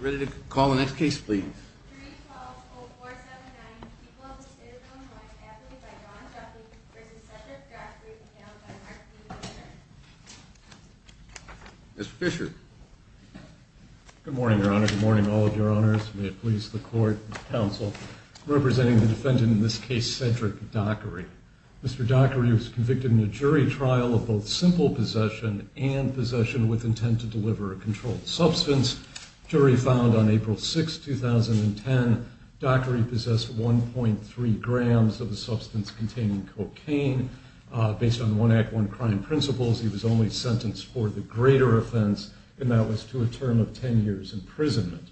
Ready to call the next case, please. Mr. Fisher. Good morning, Your Honor. Good morning, all of your honors. May it please the court, counsel, representing the defendant in this case, Cedric Dockery. Mr. Dockery was convicted in a jury trial of both simple possession and possession with intent to deliver a controlled substance. Jury found on April 6, 2010, Dockery possessed 1.3 grams of a substance containing cocaine. Based on one act, one crime principles, he was only sentenced for the greater offense, and that was to a term of 10 years imprisonment.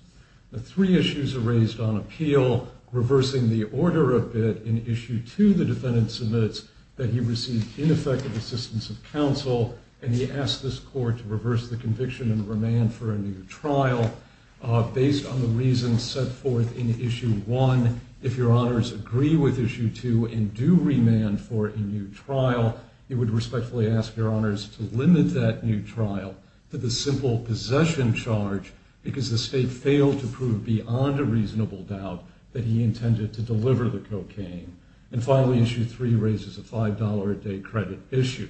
The three issues are raised on appeal, reversing the order a bit in issue two, the defendant submits that he received ineffective assistance of court to reverse the conviction and remand for a new trial. Based on the reasons set forth in issue one, if your honors agree with issue two and do remand for a new trial, you would respectfully ask your honors to limit that new trial to the simple possession charge because the state failed to prove beyond a reasonable doubt that he intended to deliver the cocaine. And finally, issue three raises a $5 a day credit issue.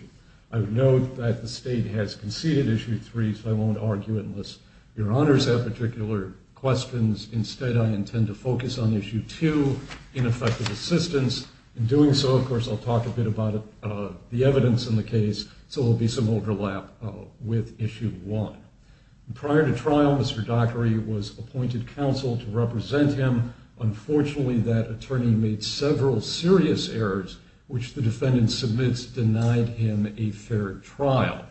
I would note that the state has conceded issue three, so I won't argue unless your honors have particular questions. Instead, I intend to focus on issue two, ineffective assistance. In doing so, of course, I'll talk a bit about the evidence in the case, so there will be some overlap with issue one. Prior to trial, Mr. Dockery was appointed counsel to represent him. Unfortunately, that attorney made several serious errors, which the defendant submits denied him a fair trial.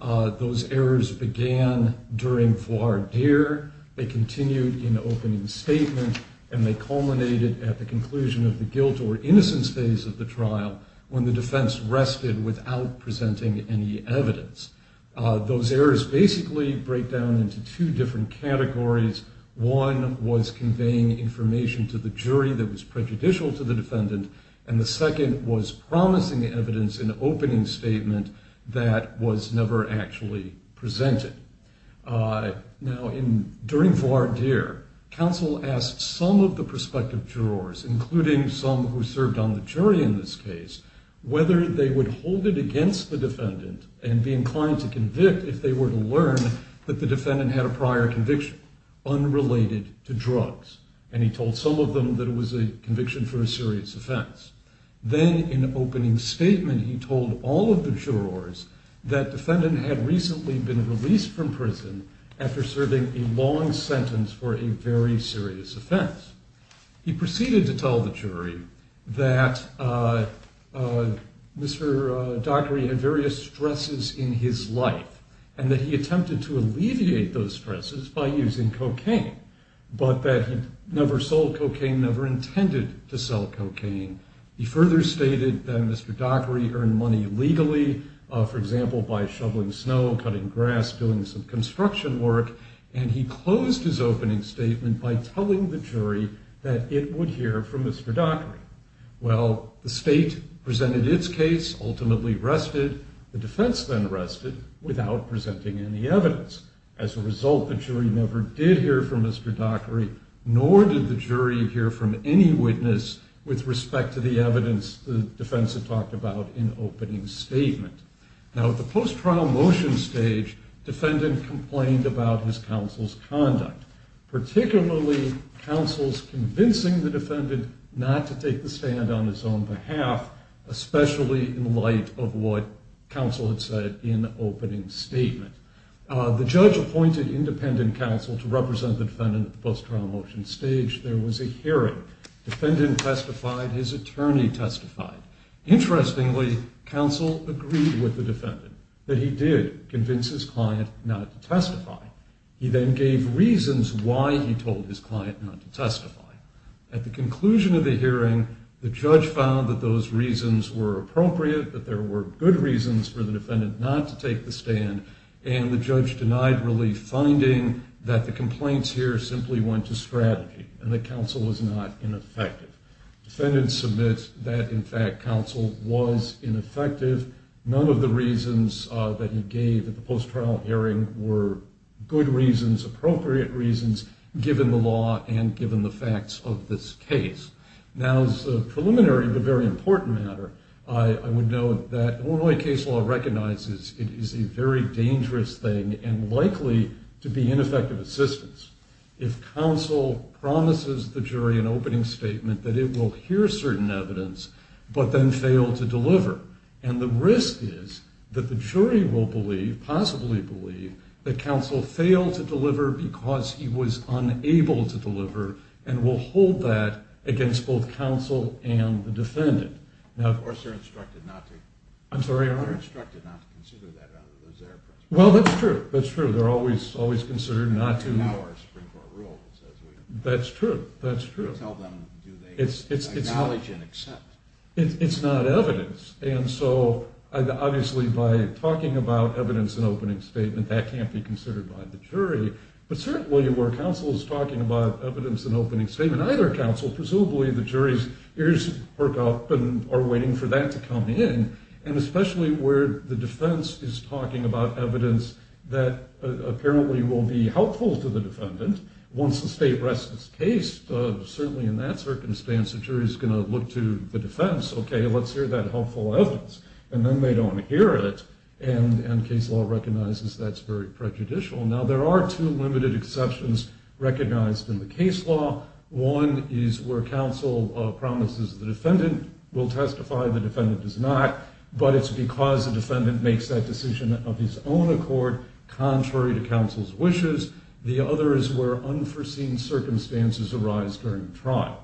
Those errors began during voir dire. They continued in opening statement, and they culminated at the conclusion of the guilt or innocence phase of the trial when the defense rested without presenting any evidence. Those errors basically break down into two different categories. One was conveying information to the jury that was prejudicial to the that was never actually presented. Now, during voir dire, counsel asked some of the prospective jurors, including some who served on the jury in this case, whether they would hold it against the defendant and be inclined to convict if they were to learn that the defendant had a prior conviction unrelated to drugs. And he told some of them that it was a conviction for a that defendant had recently been released from prison after serving a long sentence for a very serious offense. He proceeded to tell the jury that Mr. Dockery had various stresses in his life and that he attempted to alleviate those stresses by using cocaine, but that he never sold cocaine, never intended to sell cocaine. He further stated that Mr. Dockery earned money legally, for example, by shoveling snow, cutting grass, doing some construction work, and he closed his opening statement by telling the jury that it would hear from Mr. Dockery. Well, the state presented its case, ultimately rested. The defense then rested without presenting any evidence. As a result, the jury never did hear from Mr. Dockery, nor did the jury hear from any witness with respect to the evidence the defense had talked about in opening statement. Now, at the post-trial motion stage, defendant complained about his counsel's conduct, particularly counsel's convincing the defendant not to take the stand on his own behalf, especially in light of what counsel had said in opening statement. The judge appointed independent counsel to represent the defendant at the post-trial motion stage. There was a hearing. Defendant testified. His attorney testified. Interestingly, counsel agreed with the defendant that he did convince his client not to testify. He then gave reasons why he told his client not to testify. At the conclusion of the hearing, the judge found that those reasons were appropriate, that there were good reasons for the defendant not to take the stand, and the judge denied relief, finding that the complaints here simply went to strategy and that counsel was not ineffective. Defendant submits that, in fact, counsel was ineffective. None of the reasons that he gave at the post-trial hearing were good reasons, appropriate reasons, given the law and given the facts of this case. Now, as a preliminary but very important matter, I would note that Illinois case law recognizes it is a very dangerous thing and likely to be ineffective assistance. If counsel promises the jury an opening statement that it will hear certain evidence but then fail to deliver, and the risk is that the jury will believe, possibly believe, that counsel failed to deliver because he was unable to deliver and will hold that against both counsel and the defendant. Now, of course, they're instructed not to. I'm sorry, Your Honor? They're instructed not to consider that out of those air prints. Well, that's true. That's true. They're always considered not to. That's true. That's true. Tell them, do they acknowledge and accept? It's not evidence. And so, obviously, by talking about evidence and opening statement, that can't be considered by the jury, but certainly where counsel is talking about evidence and opening statement, either counsel, presumably the jury's ears perk up and are waiting for that to come in, and especially where the defense is talking about evidence that apparently will be helpful to the defendant, once the state rests its case, certainly in that circumstance, the jury's going to look to the defense, okay, let's hear that helpful evidence, and then they don't hear it, and case law recognizes that's very prejudicial. Now, there are two limited exceptions recognized in the case law. One is where counsel promises the defendant will testify, the defendant does not, but it's because the defendant makes that decision of his own accord, contrary to counsel's wishes. The other is where unforeseen circumstances arise during the trial.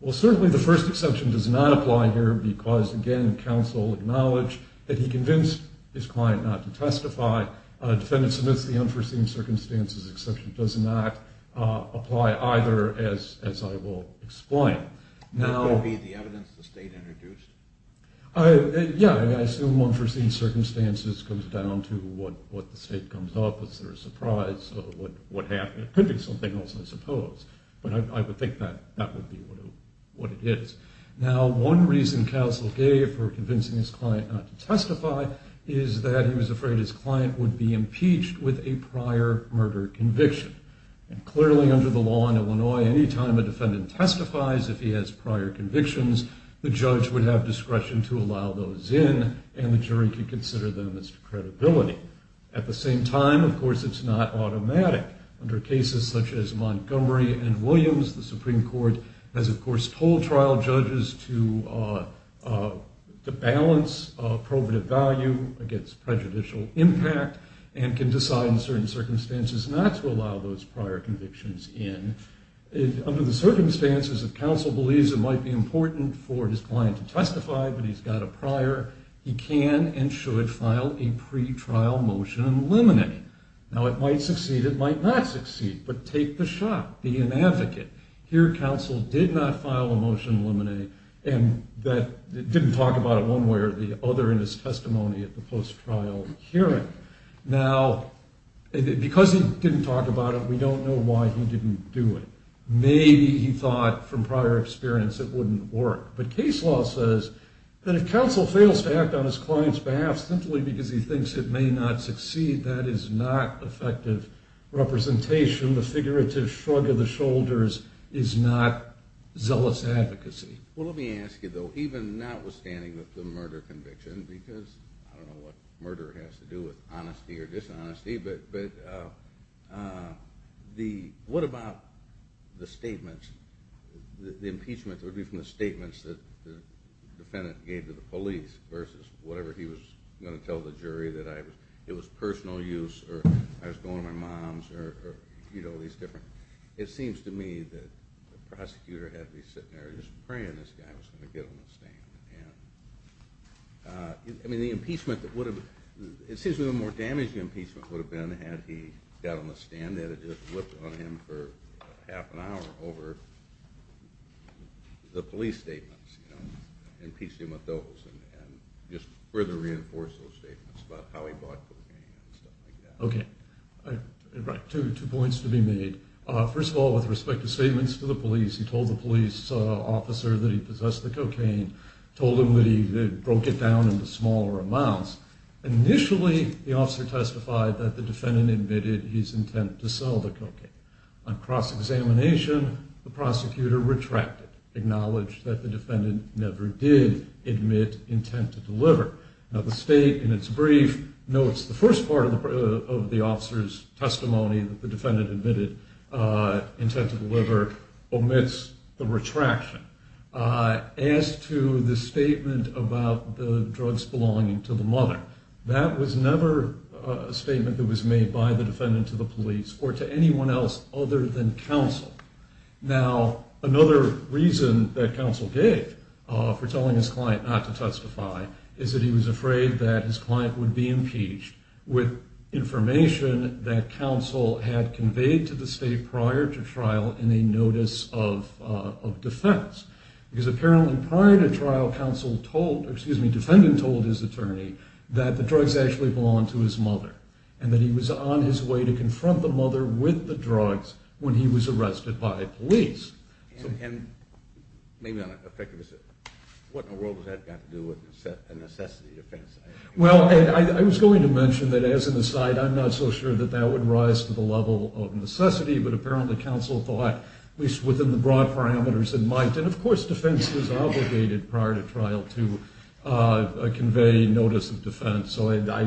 Well, certainly the first exception does not apply here because, again, counsel acknowledged that he convinced his client not to testify. Defendant submits the unforeseen circumstances exception does not apply either, as I will explain. Now, Would that be the evidence the state introduced? Yeah, I assume unforeseen circumstances comes down to what the state comes up as their surprise of what happened. It could be something else, I suppose, but I would think that that would be what it is. Now, one reason counsel gave for convincing his client not to testify is that he was afraid his client would be impeached with a prior murder conviction, and clearly under the law in Illinois, anytime a defendant testifies, if he has prior convictions, the judge would have discretion to allow those in, and the jury could consider them as to credibility. At the same time, of course, it's not automatic. Under cases such as Montgomery and Williams, the Supreme Court has, of course, told trial judges to balance probative value against prejudicial impact and can decide in certain circumstances not to allow those prior convictions in. Under the circumstances, if counsel believes it might be important for his client to testify, but he's got a prior, he can and should file a pre-trial motion and eliminate. Now, it might succeed, it might not succeed, but take the shot. Be an advocate. Here, counsel did not file a motion and eliminate, and didn't talk about it one way or the other in his testimony at the post-trial hearing. Now, because he didn't talk about it, we don't know why he didn't do it. Maybe he thought from prior experience it wouldn't work, but case law says that if counsel fails to act on his client's behalf simply because he thinks it may not succeed, that is not effective representation. The figurative shrug of the shoulders is not zealous advocacy. Well, let me ask you, though, even notwithstanding the murder conviction, because I don't know what murder has to do with honesty or dishonesty, but what about the statements, the impeachment, would it be from the statements that the defendant gave to the police versus whatever he was going to tell the jury that it was personal use or I was going to my mom's or, you know, these different, it seems to me that the prosecutor had to be sitting there just praying this guy was going to get on the stand. And, I mean, the impeachment that would have, it seems to me the more damaging impeachment would have been had he got on the stand, had it just looked on him for half an hour over the police statements, you know, impeachment of those and just further reinforce those statements about how he bought cocaine and stuff like that. Okay, two points to be made. First of all, with respect to statements to the police, he told the police officer that he possessed the cocaine, told him that he broke it down into smaller amounts. Initially, the officer testified that the defendant admitted his intent to sell the cocaine. On cross-examination, the prosecutor retracted, acknowledged that the defendant never did admit intent to deliver. Now, the state, in its brief, notes the first part of the officer's testimony that the defendant admitted intent to deliver omits the retraction. As to the statement about the drugs belonging to the mother, that was made by the defendant to the police or to anyone else other than counsel. Now, another reason that counsel gave for telling his client not to testify is that he was afraid that his client would be impeached with information that counsel had conveyed to the state prior to trial in a notice of defense. Because apparently prior to trial, counsel told, excuse me, defendant told his attorney that the drugs actually belonged to his mother and that he was on his way to confront the mother with the drugs when he was arrested by police. And maybe on a particular, what in the world does that have to do with a necessity defense? Well, I was going to mention that as an aside, I'm not so sure that that would rise to the level of necessity. But apparently, counsel thought, at least within the broad parameters in mind, and of course, defense is obligated prior to trial to convey notice of defense. So I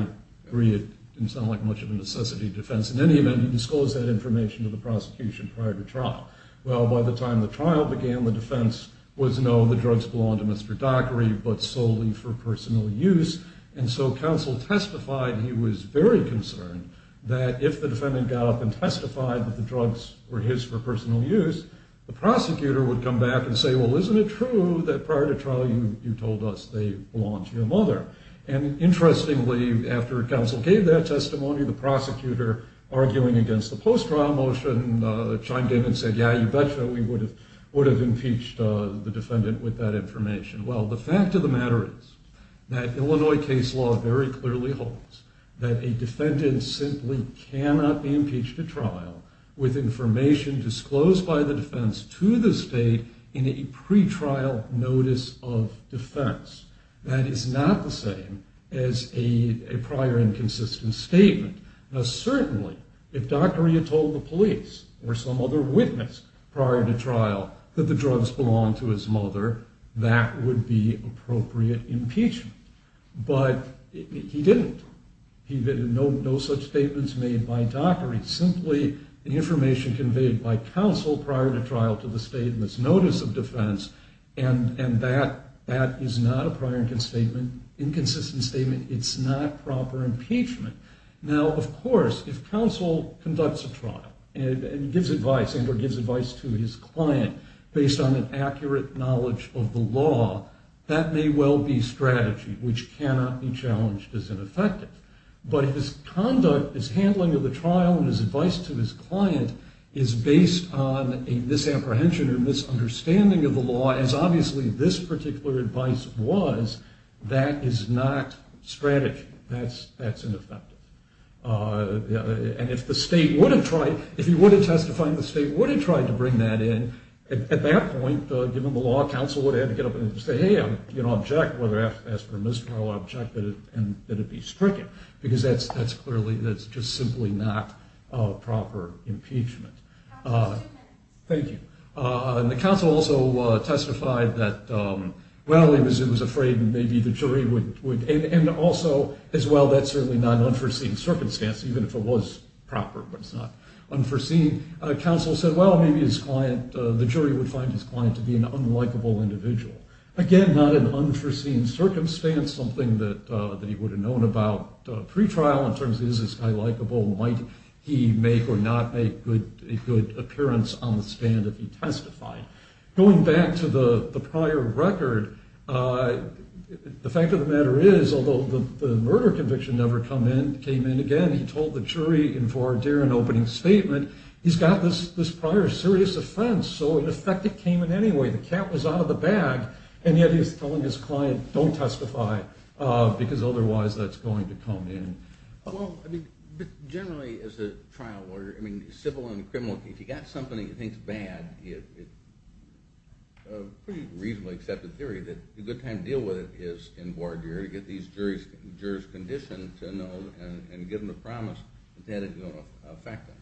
agree it's not like much of a necessity defense. In any event, he disclosed that information to the prosecution prior to trial. Well, by the time the trial began, the defense was, no, the drugs belong to Mr. Dockery, but solely for personal use. And so counsel testified he was very concerned that if the defendant got up and testified that the drugs were his for personal use, the prosecutor would come back and say, well, isn't it true that prior to trial you told us they belong to your mother? And interestingly, after counsel gave that testimony, the prosecutor, arguing against the post-trial motion, chimed in and said, yeah, you betcha we would have impeached the defendant with that information. Well, the fact of the matter is that Illinois case law very clearly holds that a defendant simply cannot be impeached at trial with information disclosed by the defense to the state in a pretrial notice of defense. That is not the same as a prior inconsistent statement. Now certainly, if Dockery had told the police or some other witness prior to trial that the drugs belonged to his mother, that would be appropriate impeachment. But he didn't. He did no such statements made by Dockery, simply the information conveyed by counsel prior to trial to the state in this notice of defense. And that is not a prior inconsistent statement. It's not proper impeachment. Now, of course, if counsel conducts a trial and gives advice to his client based on an accurate knowledge of the law, that may well be strategy, which cannot be challenged as ineffective. But his conduct, his handling of the trial, and his advice to his client is based on a misapprehension or misunderstanding of the law, as obviously this particular advice was. That is not strategy. That's ineffective. And if the state would have tried, if he would have testified and the state would have tried to bring that in, at that point, given the law, counsel would have had to get up and say, hey, I'm going to object. Whether that's permissible or I'll object, and that it be stricken. Because that's clearly, that's just simply not proper impeachment. Thank you. And the counsel also testified that, well, he was afraid that maybe the jury would, and also, as well, that's certainly not an unforeseen circumstance, even if it was proper, but it's not unforeseen. Counsel said, well, maybe his client, the jury would find his client to be an unlikable individual. Again, not an unforeseen circumstance, something that he would have known about pre-trial in terms of, is this guy likable, might he make or not make a good appearance on the stand if he testified. Going back to the prior record, the fact of the matter is, although the murder conviction never came in again, he told the jury in for a daring opening statement, he's got this prior serious offense, so in effect, it came in anyway. The cat was out of the bag, and yet he was telling his client, don't Well, I mean, generally, as a trial lawyer, I mean, civil and criminal, if you've got something that you think is bad, it's a pretty reasonably accepted theory that a good time to deal with it is in board jury, get these jurors conditioned to know and give them the promise that it's going to affect them.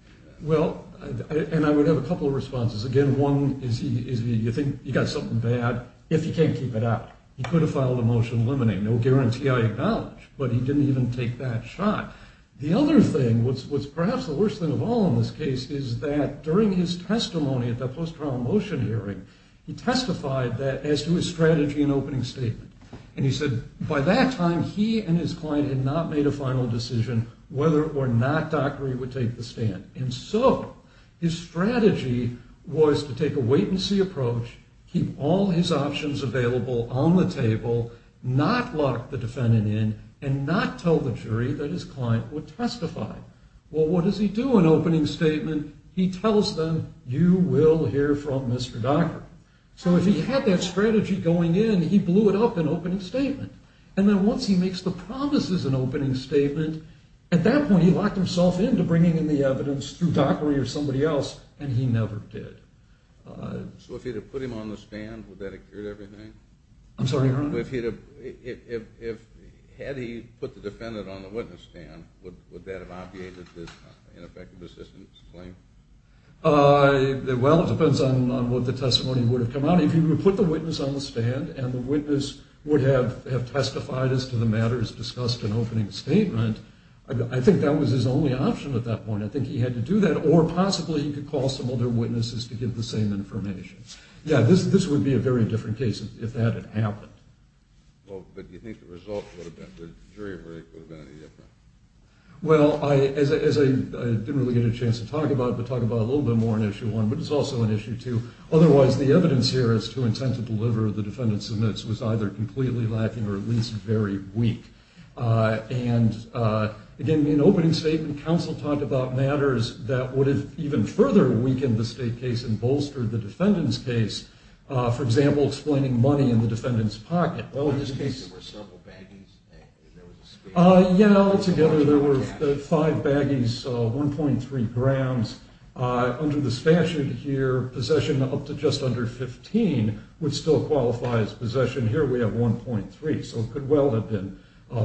Well, and I would have a couple of responses. Again, one is you think you've got something bad, if you can't keep it out, you could have filed a motion eliminating. No guarantee I acknowledge, but he didn't even take that shot. The other thing, what's perhaps the worst thing of all in this case is that during his testimony at the post-trial motion hearing, he testified that as to his strategy and opening statement, and he said by that time he and his client had not made a final decision whether or not Dockery would take the stand, and so his strategy was to take a wait-and-see approach, keep all his options available on the table, not lock the defendant in, and not tell the jury that his client would testify. Well, what does he do in opening statement? He tells them, you will hear from Mr. Dockery. So if he had that strategy going in, he blew it up in opening statement, and then once he makes the promises in opening statement, at that point he locked himself in to bringing in the evidence through Dockery or somebody else, and he never did. So if he'd have put him on the stand, would that have cured everything? I'm sorry, your honor? If he'd have... had he put the defendant on the witness stand, would that have obviated his ineffective assistance claim? Well, it depends on what the testimony would have come out. If he would have put the witness on the stand, and the witness would have testified as to the matters discussed in opening statement, I think that was his only option at that point. I think he had to do that, or possibly he could call some other witnesses to give the same information. Yeah, this would be a very different case if that had happened. Well, but do you think the jury verdict would have been any different? Well, I didn't really get a chance to talk about it, but talk about it a little bit more in issue one, but it's also in issue two. Otherwise, the evidence here as to intent to deliver, the defendant submits, was either completely lacking or at least very weak. And again, in opening statement, counsel talked about matters that would have even further weakened the state case and bolstered the defendant's case. For example, explaining money in the defendant's pocket. There were several baggies? Yeah, altogether there were five baggies, 1.3 grams. Under the statute here, possession up to just under 15 would still qualify as possession. Here we have 1.3, so it could well have been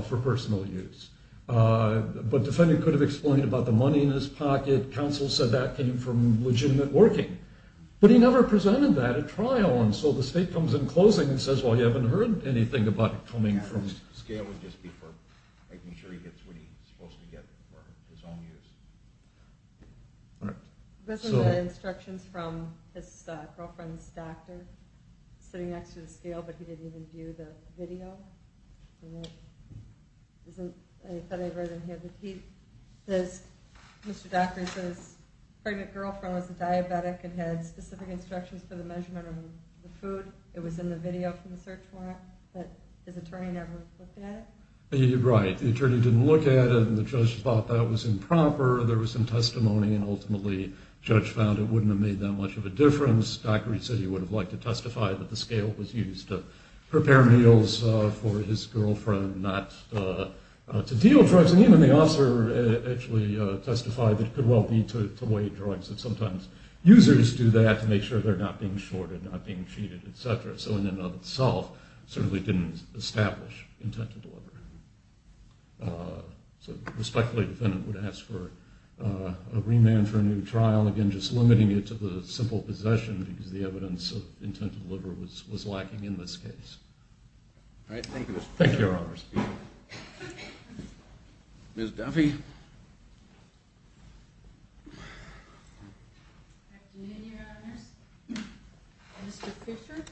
for personal use. But defendant could have explained about the money in his pocket. Counsel said that came from legitimate working. But he never presented that at trial, and so the state comes in closing and says, well, you haven't heard anything about it coming from... Yeah, the scale would just be for making sure he gets what he's supposed to get for his own use. This is the instructions from his girlfriend's doctor, sitting next to the scale, but he didn't even view the video. I thought I read it here. Mr. Dockery says his pregnant girlfriend was a diabetic and had specific instructions for the measurement of the food. It was in the video from the search warrant, but his attorney never looked at it. Right, the attorney didn't look at it, and the judge thought that was improper. There was some testimony, and ultimately the judge found it wouldn't have made that much of a difference. Dockery said he would have liked to testify that the scale was used to allow for his girlfriend not to deal drugs on him, and the officer actually testified that it could well be to weigh drugs, and sometimes users do that to make sure they're not being shorted, not being cheated, etc. So in and of itself, certainly didn't establish intent to deliver. So respectfully, the defendant would ask for a remand for a new trial, again, just limiting it to the simple possession, because the evidence of intent to deliver was lacking in this case. Thank you, Your Honors. Ms. Duffy. Good afternoon, Your Honors. Mr. Fisher.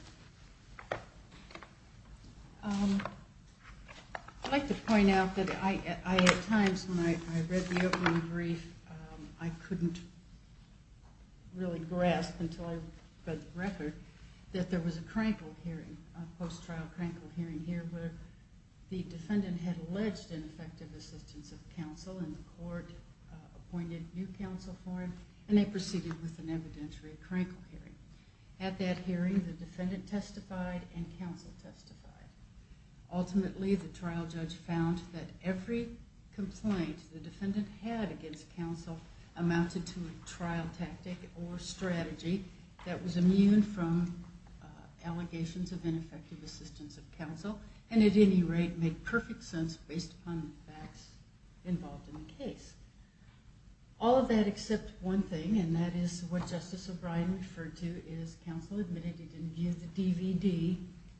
I'd like to point out that at times when I read the opening brief, I couldn't really grasp until I read the record, that there was a crankle hearing, a post-trial crankle hearing here, where the defendant had alleged ineffective assistance of counsel, and the court appointed new counsel for him, and they proceeded with an evidentiary crankle hearing. At that hearing, the defendant testified, and counsel testified. Ultimately, the trial judge found that every complaint the defendant had against counsel amounted to a trial tactic or strategy that was immune from allegations of ineffective assistance of counsel, and at any rate, made perfect sense based upon the facts involved in the case. All of that except one thing, and that is what Justice O'Brien referred to, is counsel admitted he didn't view the DVD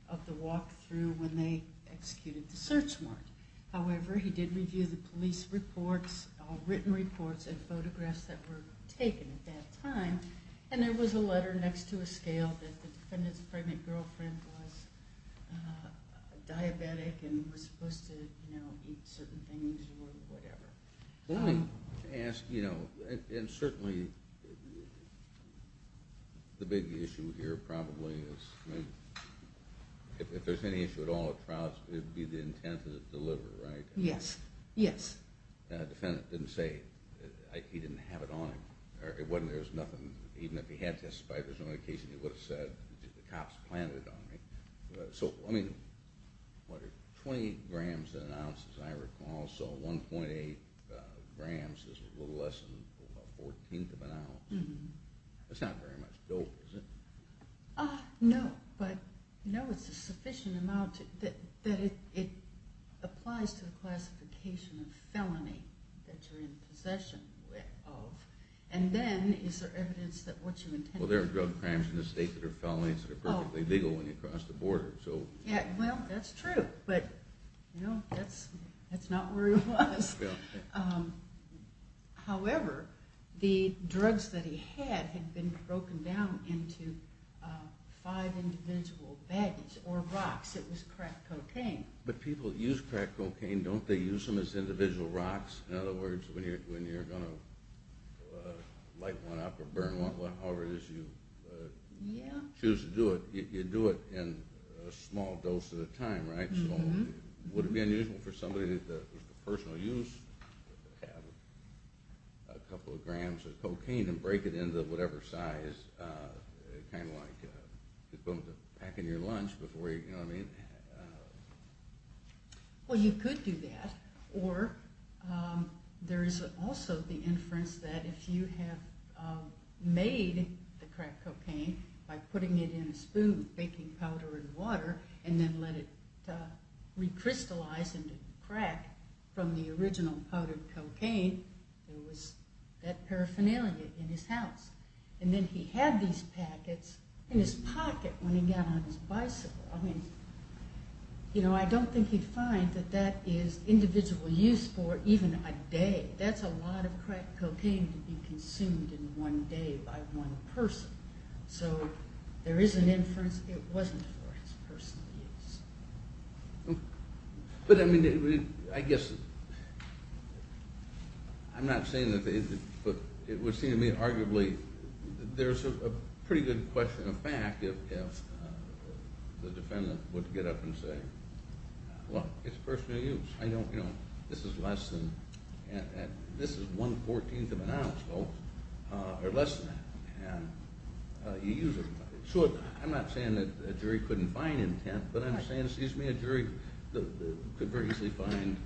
of the walkthrough when they executed the search warrant. However, he did review the police reports, written reports, and photographs that were taken at that time, and there was a letter next to a scale that the defendant's pregnant girlfriend was diabetic and was supposed to eat certain things or whatever. Let me ask, you know, and certainly the big issue here probably is if there's any issue at all at trials, it would be the intent to deliver, right? Yes, yes. The defendant didn't say he didn't have it on him. There's nothing, even if he had testified, there's no indication he would have said the cops planted it on me. So, I mean, what are 20 grams an ounce, as I recall, so 1.8 grams is a little less than a fourteenth of an ounce. That's not very much dough, is it? No, but no, it's a sufficient amount that it applies to the classification of felony that you're in possession of, and then is there evidence that what you intended to do... Well, there are drug crimes in this state that are felonies that are perfectly legal when you cross the border, so... Yeah, well, that's true, but, you know, that's not where he was. However, the drugs that he had had been broken down into five individual baggage, or rocks. It was crack cocaine. But people use crack cocaine, don't they use them as individual rocks? In other words, when you're going to light one up or burn one, however it is you choose to do it, you do it in a small dose at a time, right? So, would it be unusual for somebody that was for personal use to have a couple of grams of cocaine and break it into whatever size, kind of like the equipment to pack into your lunch, you know what I mean? Well, you could do that, or there is also the inference that if you have made the crack cocaine by putting it in a spoon, baking powder in water, and then let it recrystallize into crack from the original powdered cocaine, there was that paraphernalia in his house. And then he had these packets in his bicycle. I mean, you know, I don't think you'd find that that is individual use for even a day. That's a lot of crack cocaine to be consumed in one day by one person. So, there is an inference it wasn't for his personal use. But I mean, I guess I'm not saying that it would seem to me arguably, there's a pretty good question of fact if the defendant would get up and say, well, it's personal use. I don't, you know, this is less than this is one-fourteenth of an ounce, folks, or less than that. And you use it. So, I'm not saying that a jury couldn't find intent, but I'm saying, excuse me, a jury could very easily find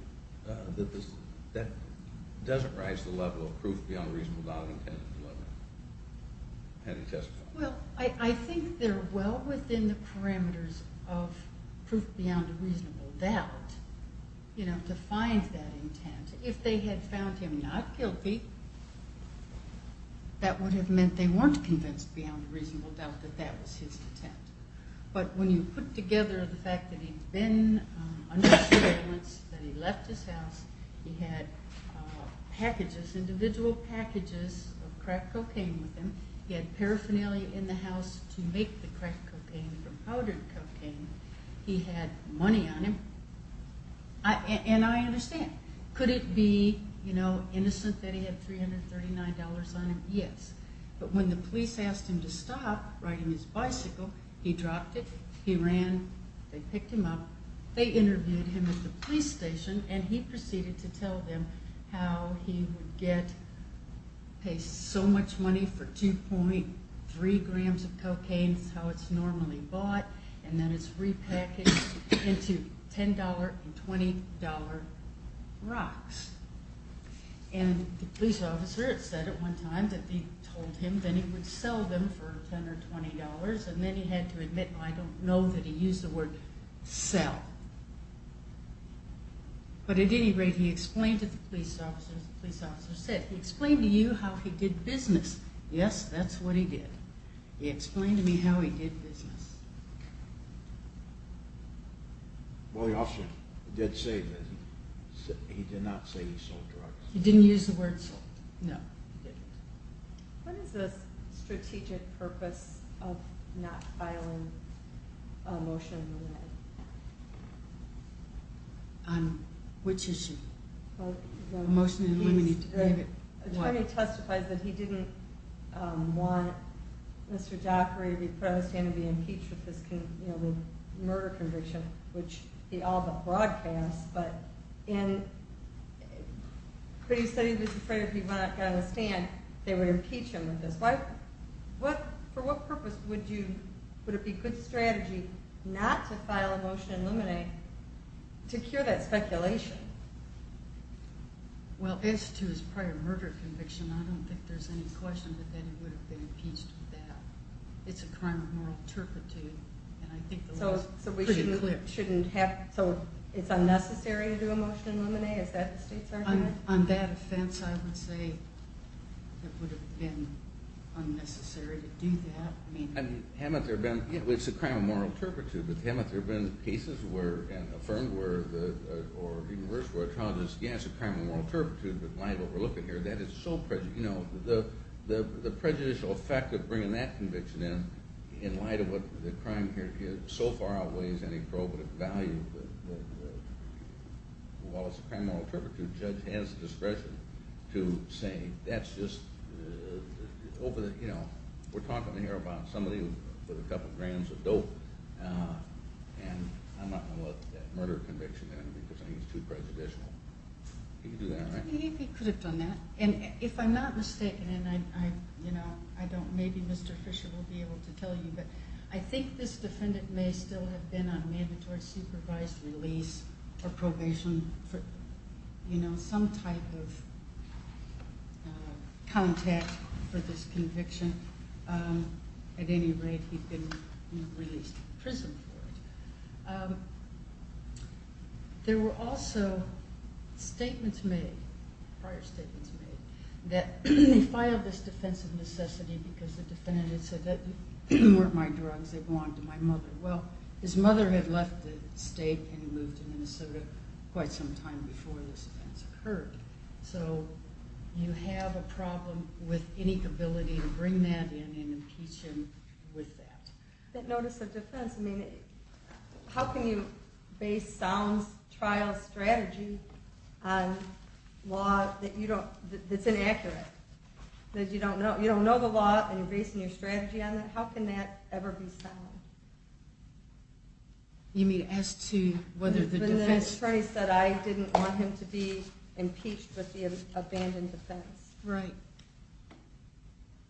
that that doesn't rise to the level of proof beyond a reasonable doubt of intent. Well, I think they're well within the parameters of proof beyond a reasonable doubt, you know, to find that intent. If they had found him not guilty, that would have meant they weren't convinced beyond a reasonable doubt that that was his intent. But when you put together the fact that he'd been under surveillance, that he left his house, he had packages, individual packages of crack cocaine with him, he had paraphernalia in the house to make the crack cocaine from powdered cocaine, he had money on him, and I understand. Could it be, you know, innocent that he had $339 on him? Yes. But when the police asked him to stop riding his bicycle, he dropped it, he ran, they picked him up, they interviewed him at the police station, and he proceeded to tell them how he would get, pay so much money for 2.3 grams of cocaine, that's how it's normally bought, and then it's repackaged into $10 and $20 rocks. And the police officer had said at one time that he told him that he would sell them for $10 or $20, and then he had to admit, well, I don't know that he used the word sell. But at any rate, he explained to the police officer, as the police officer said, he explained to you how he did business. Yes, that's what he did. He explained to me how he did business. Well, the officer did say that he did not say he sold drugs. He didn't use the word sold. No, he didn't. What is the strategic purpose of not filing a motion to eliminate? On which issue? A motion to eliminate to name it. The attorney testified that he didn't want Mr. Jaffray to be put on the stand and be impeached with his murder conviction, which he all but broadcast, but in, but he said he was afraid if he got on the stand, they would impeach him with this. For what purpose would it be good strategy not to file a motion to eliminate to cure that speculation? Well, as to his prior murder conviction, I don't think there's any question that he would have been impeached with that. It's a crime of moral turpitude. So it's unnecessary to do a motion to eliminate? Is that the state's argument? On that offense, I would say it would have been unnecessary to do that. Haven't there been, it's a crime of moral turpitude, but haven't there been cases where, and affirmed, where the, or even worse, where a child has, yes, it's a crime of moral turpitude, but in light of what we're looking at here, that is so prejudicial. The prejudicial effect of bringing that conviction in, in light of what the crime here is, so far outweighs any probative value that while it's a crime of moral turpitude, the judge has discretion to say, that's just over the, you know, we're talking here about somebody with a couple grams of dope and I'm not going to let that murder conviction in because I think it's too prejudicial. He could do that, right? He could have done that. And if I'm not mistaken, and I, you know, I don't, maybe Mr. Fisher will be able to tell you, but I think this defendant may still have been on mandatory supervised release or probation for, you know, some type of contact for this conviction. At any rate, he'd been released from prison for it. There were also statements made, prior statements made, that he filed this defense of necessity because the defendant had said that these weren't my drugs, they belonged to my mother. Well, his mother had left the state and moved to Minnesota quite some time before this event occurred. So, you have a problem with any ability to bring that in and impeach him with that. That notice of defense, I mean, how can you base sound trial strategy on law that you don't, that's inaccurate, that you don't know the law and you're basing your strategy on that? How can that ever be sound? You mean as to whether the defense The attorney said I didn't want him to be impeached with the abandoned defense. Right.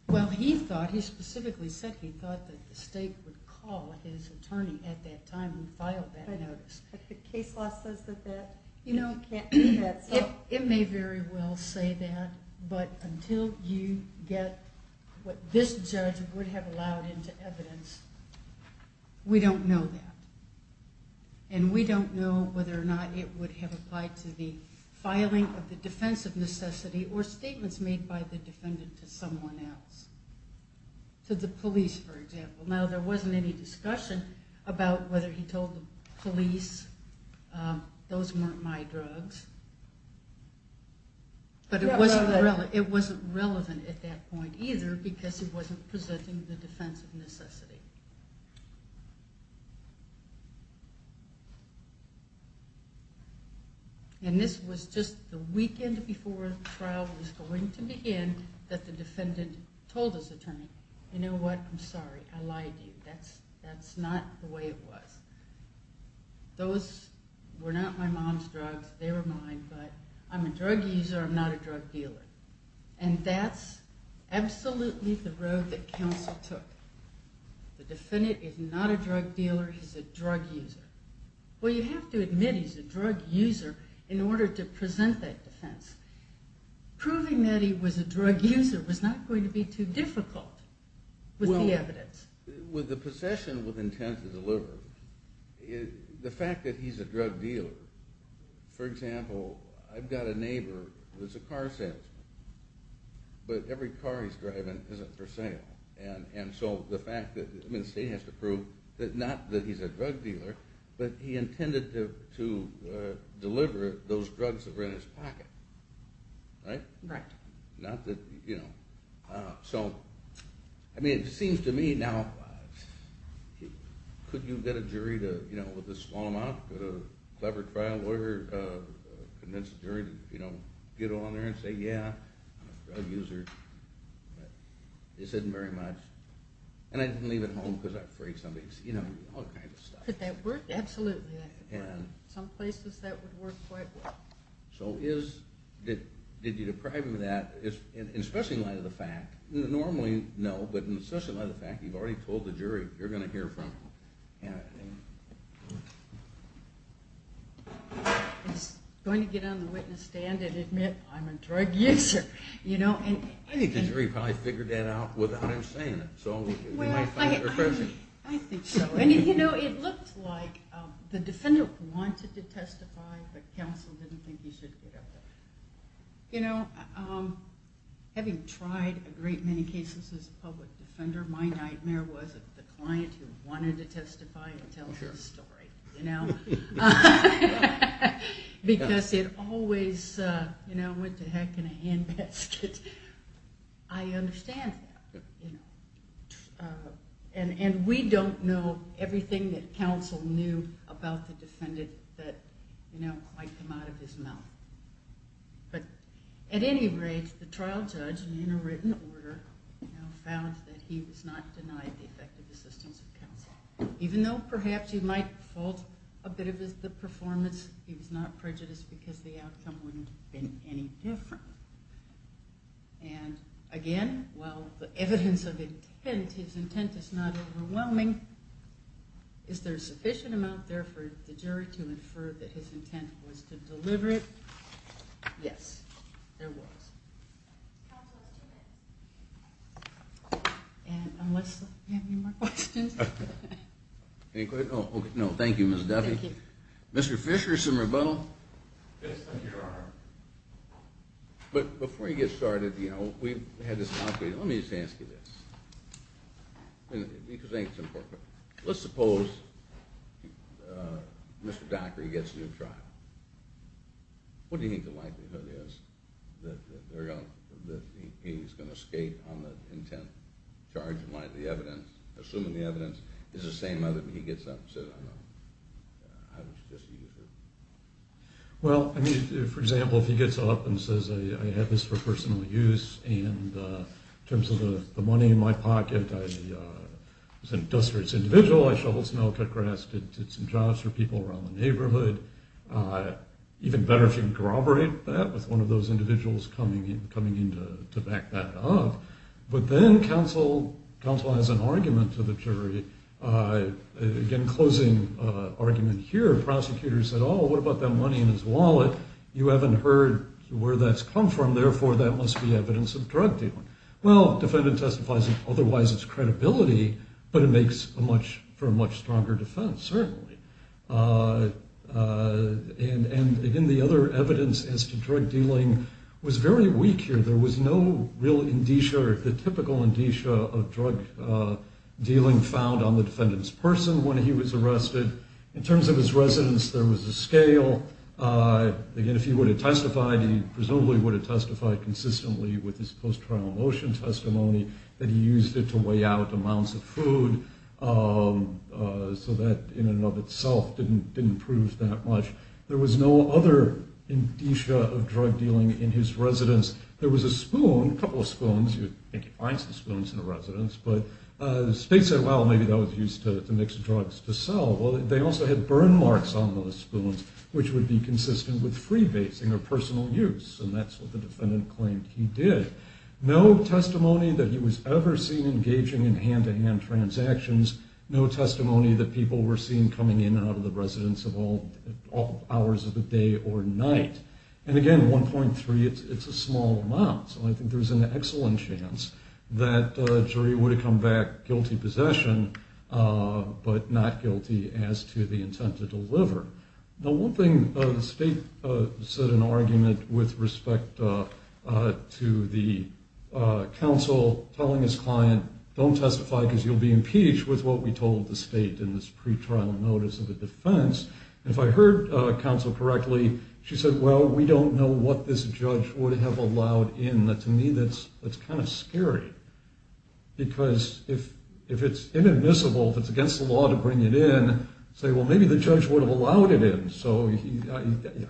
Well, he thought, he specifically said he thought that the state would call his attorney at that time and file that notice. But the case law says that that you know, can't do that. It may very well say that, but until you get what this judge would have allowed into evidence, we don't know that. And we don't know whether or not it would have applied to the filing of the defense of necessity or statements made by the defendant to someone else. To the police, for example. Now, there wasn't any discussion about whether he told the police those weren't my drugs. But it wasn't relevant at that point either because he wasn't presenting the defense of necessity. And this was just the weekend before the trial was going to begin that the defendant told his attorney you know what, I'm sorry, I lied to you, that's not the way it was. Those were not my mom's drugs, they were mine, but I'm a drug user, I'm not a drug dealer. And that's absolutely the road that counsel took. The defendant is not a drug dealer, he's a drug user. Well, you have to admit he's a drug user in order to present that defense. Proving that he was a drug user was not going to be too difficult with the evidence. With the possession with intent to deliver, the fact that he's a drug dealer, for example, I've got a neighbor who's a car salesman. But every car he's driving isn't for sale. And so the fact that, the state has to prove that not that he's a drug dealer, but he intended to deliver those drugs that were in his pocket. Right? Not that, you know. I mean, it seems to me now, could you get a jury with a small amount, could a clever trial lawyer convince a jury to get on there and say, yeah, I'm a drug user, but this isn't very much. And I didn't leave it home because I'm afraid somebody would see it. Could that work? Absolutely. Some places that would work quite well. So is, did you deprive him of that? In the special light of the fact, normally no, but in the special light of the fact, you've already told the jury you're going to hear from him. He's going to get on the witness stand and admit I'm a drug user. I think the jury probably figured that out without him saying it. I think so. And you know, it looked like the defender wanted to testify, but counsel didn't think he should get up there. You know, having tried a great many cases as a public defender, my nightmare was the client who wanted to testify and tell his story. Because it always went to heck in a hand basket. I understand that. And we don't know everything that counsel knew about the defendant that might come out of his mouth. But at any rate, the trial judge, in a written order, found that he was not denied the effective assistance of counsel. Even though perhaps he might fault a bit of the performance, he was not prejudiced because the outcome wouldn't have been any different. And again, while the evidence of intent, his intent is not overwhelming, is there sufficient amount there for the jury to infer that his intent was to deliver it? Yes, there was. And unless you have any more questions? No, thank you, Ms. Duffy. Mr. Fisher, some rebuttal? Yes, thank you, Your Honor. But before you get started, you know, we've had this conversation. Let me just ask you this. Let's suppose Mr. Dockery gets a new trial. What do you think the likelihood is that he's going to skate on the intent charge? Assuming the evidence is the same as when he gets up and says, I don't know. Well, I mean, for example, if he gets up and says, I have this for personal use, and in terms of the money in my pocket, I was an industrious individual. I shoveled snow, cut grass, did some jobs for people around the neighborhood. Even better if you can corroborate that with one of those individuals coming in to back that up. But then counsel has an argument to the jury. Again, closing argument here, prosecutor said, oh, what about that money in his wallet? You haven't heard where that's come from. Therefore, that must be evidence of drug dealing. Well, defendant testifies, otherwise it's credibility, but it makes for a much stronger defense, certainly. And again, the other evidence as to drug dealing was very weak here. There was no real indicia or the typical indicia of drug dealing found on the defendant's person when he was arrested. In terms of his residence, there was a scale. Again, if he would have testified, he presumably would have testified consistently with his post-trial motion testimony that he used it to weigh out amounts of food so that in and of itself didn't prove that much. There was no other indicia of drug dealing in his residence. There was a spoon, a couple of spoons, I think he finds the spoons in the residence, but the state said, well, maybe that was used to mix drugs to sell. Well, they also had burn marks on the spoons, which would be consistent with freebasing or personal use, and that's what the defendant claimed he did. No testimony that he was ever seen engaging in hand-to-hand transactions. No testimony that people were seen coming in and out of the residence of all hours of the day or night. And again, 1.3, it's a small amount, so I think there's an excellent chance that a jury would have come back guilty possession, but not guilty as to the intent to deliver. Now, one thing, the state said in an argument with respect to the counsel telling his client, don't testify because you'll be impeached with what we told the state in this pretrial notice of the defense. If I heard counsel correctly, she said, well, we don't know what this judge would have allowed in. To me, that's kind of scary because if it's inadmissible, if it's against the law to bring it in, say, well, maybe the judge would have allowed it in.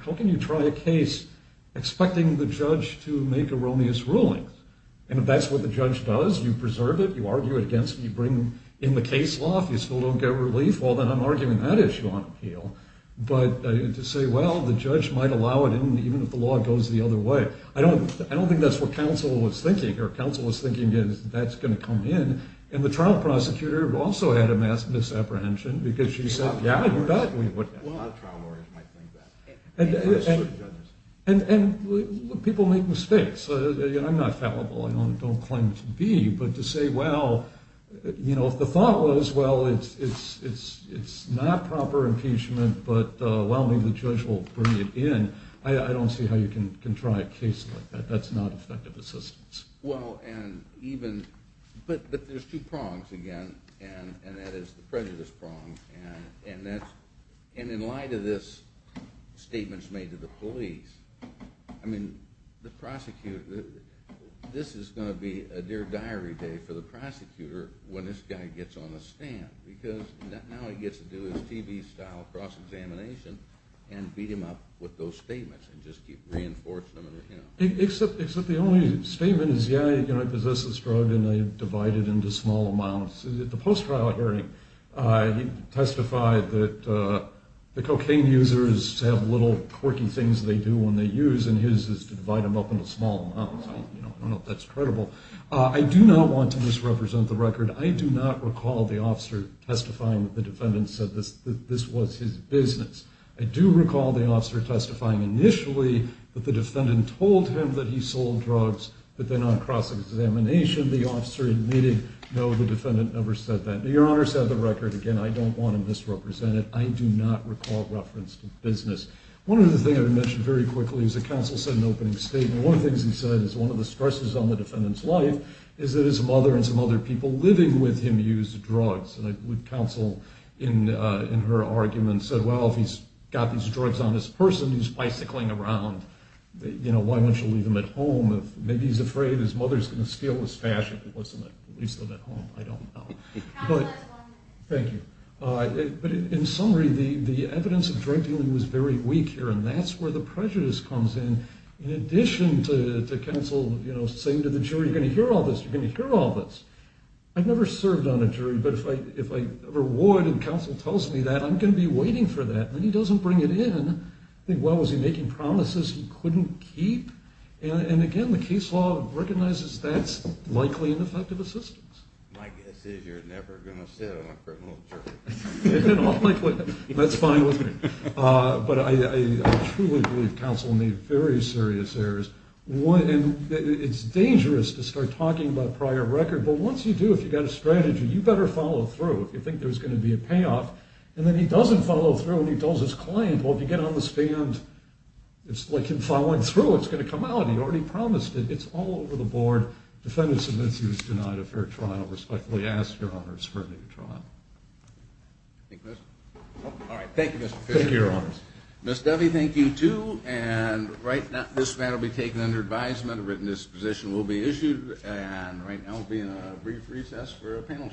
How can you try a case expecting the judge to make erroneous rulings? And if that's what the judge does, you preserve it, you argue it against it, you bring in the case law, if you still don't get relief, well, then I'm arguing that issue on appeal. But to say, well, the judge might allow it in even if the law goes the other way. I don't think that's what counsel was thinking. Counsel was thinking that's going to come in, and the trial prosecutor also had a mass misapprehension because she said, yeah, you bet we would. A lot of trial lawyers might think that. And people make mistakes. I'm not fallible. I don't claim to be. But to say, well, if the thought was, well, it's not proper impeachment, but well, maybe the judge will bring it in, I don't see how you can try a case like that. That's not effective assistance. But there's two prongs, again, and that is the prejudice prong. And in light of this statements made to the police, this is going to be a dear diary day for the prosecutor when this guy gets on the stand. Because now all he gets to do is TB-style cross-examination and beat him up with those statements and just keep reinforcing them. Except the only statement is, yeah, I possess this drug, and I divide it into small amounts. At the post-trial hearing, he testified that the cocaine users have little quirky things they do when they use, and his is to divide them up into small amounts. I don't know if that's credible. I do not want to misrepresent the record. I do not recall the officer testifying that the defendant said that this was his business. I do recall the officer testifying initially that the defendant told him that he sold drugs, but then on cross-examination, the officer admitted, no, the defendant never said that. Your Honor, set of the record, again, I don't want to misrepresent it. I do not recall reference to business. One other thing I would mention very quickly is that counsel said in the opening statement, one of the things he said is one of the stresses on the defendant's life is that his mother and some other people living with him use drugs. And I believe counsel in her argument said, well, if he's got these drugs on this person, he's bicycling around. Why wouldn't you leave him at home? Maybe he's afraid his mother's going to steal his fashion. At least at home, I don't know. Thank you. In summary, the evidence of drug dealing was very weak here, and that's where the prejudice comes in. In addition to counsel saying to the jury, you're going to hear all this, you're going to hear all this. I've never served on a jury, but if I ever would, and counsel tells me that, I'm going to be waiting for that. Then he doesn't bring it in. I think, well, was he making promises he couldn't keep? And again, the case law recognizes that's likely ineffective assistance. My guess is you're never going to sit on a criminal jury. That's fine with me. But I truly believe counsel made very serious errors. It's dangerous to start talking about prior record, but once you do, if you've got a strategy, you better follow through. If you think there's going to be a payoff, and then he doesn't follow through and he tells his client, well, if you get on this band, it's like him following through. It's going to come out. He already promised it. It's all over the board. Defendant submits he was denied a fair trial. Respectfully ask, Your Honors, for a new trial. Thank you, Mr. Fischer. Thank you, Your Honors. Ms. Duffy, thank you, too, and right now this matter will be taken under advisement. A written disposition will be issued, and right now we'll be in a brief recess for a panel change.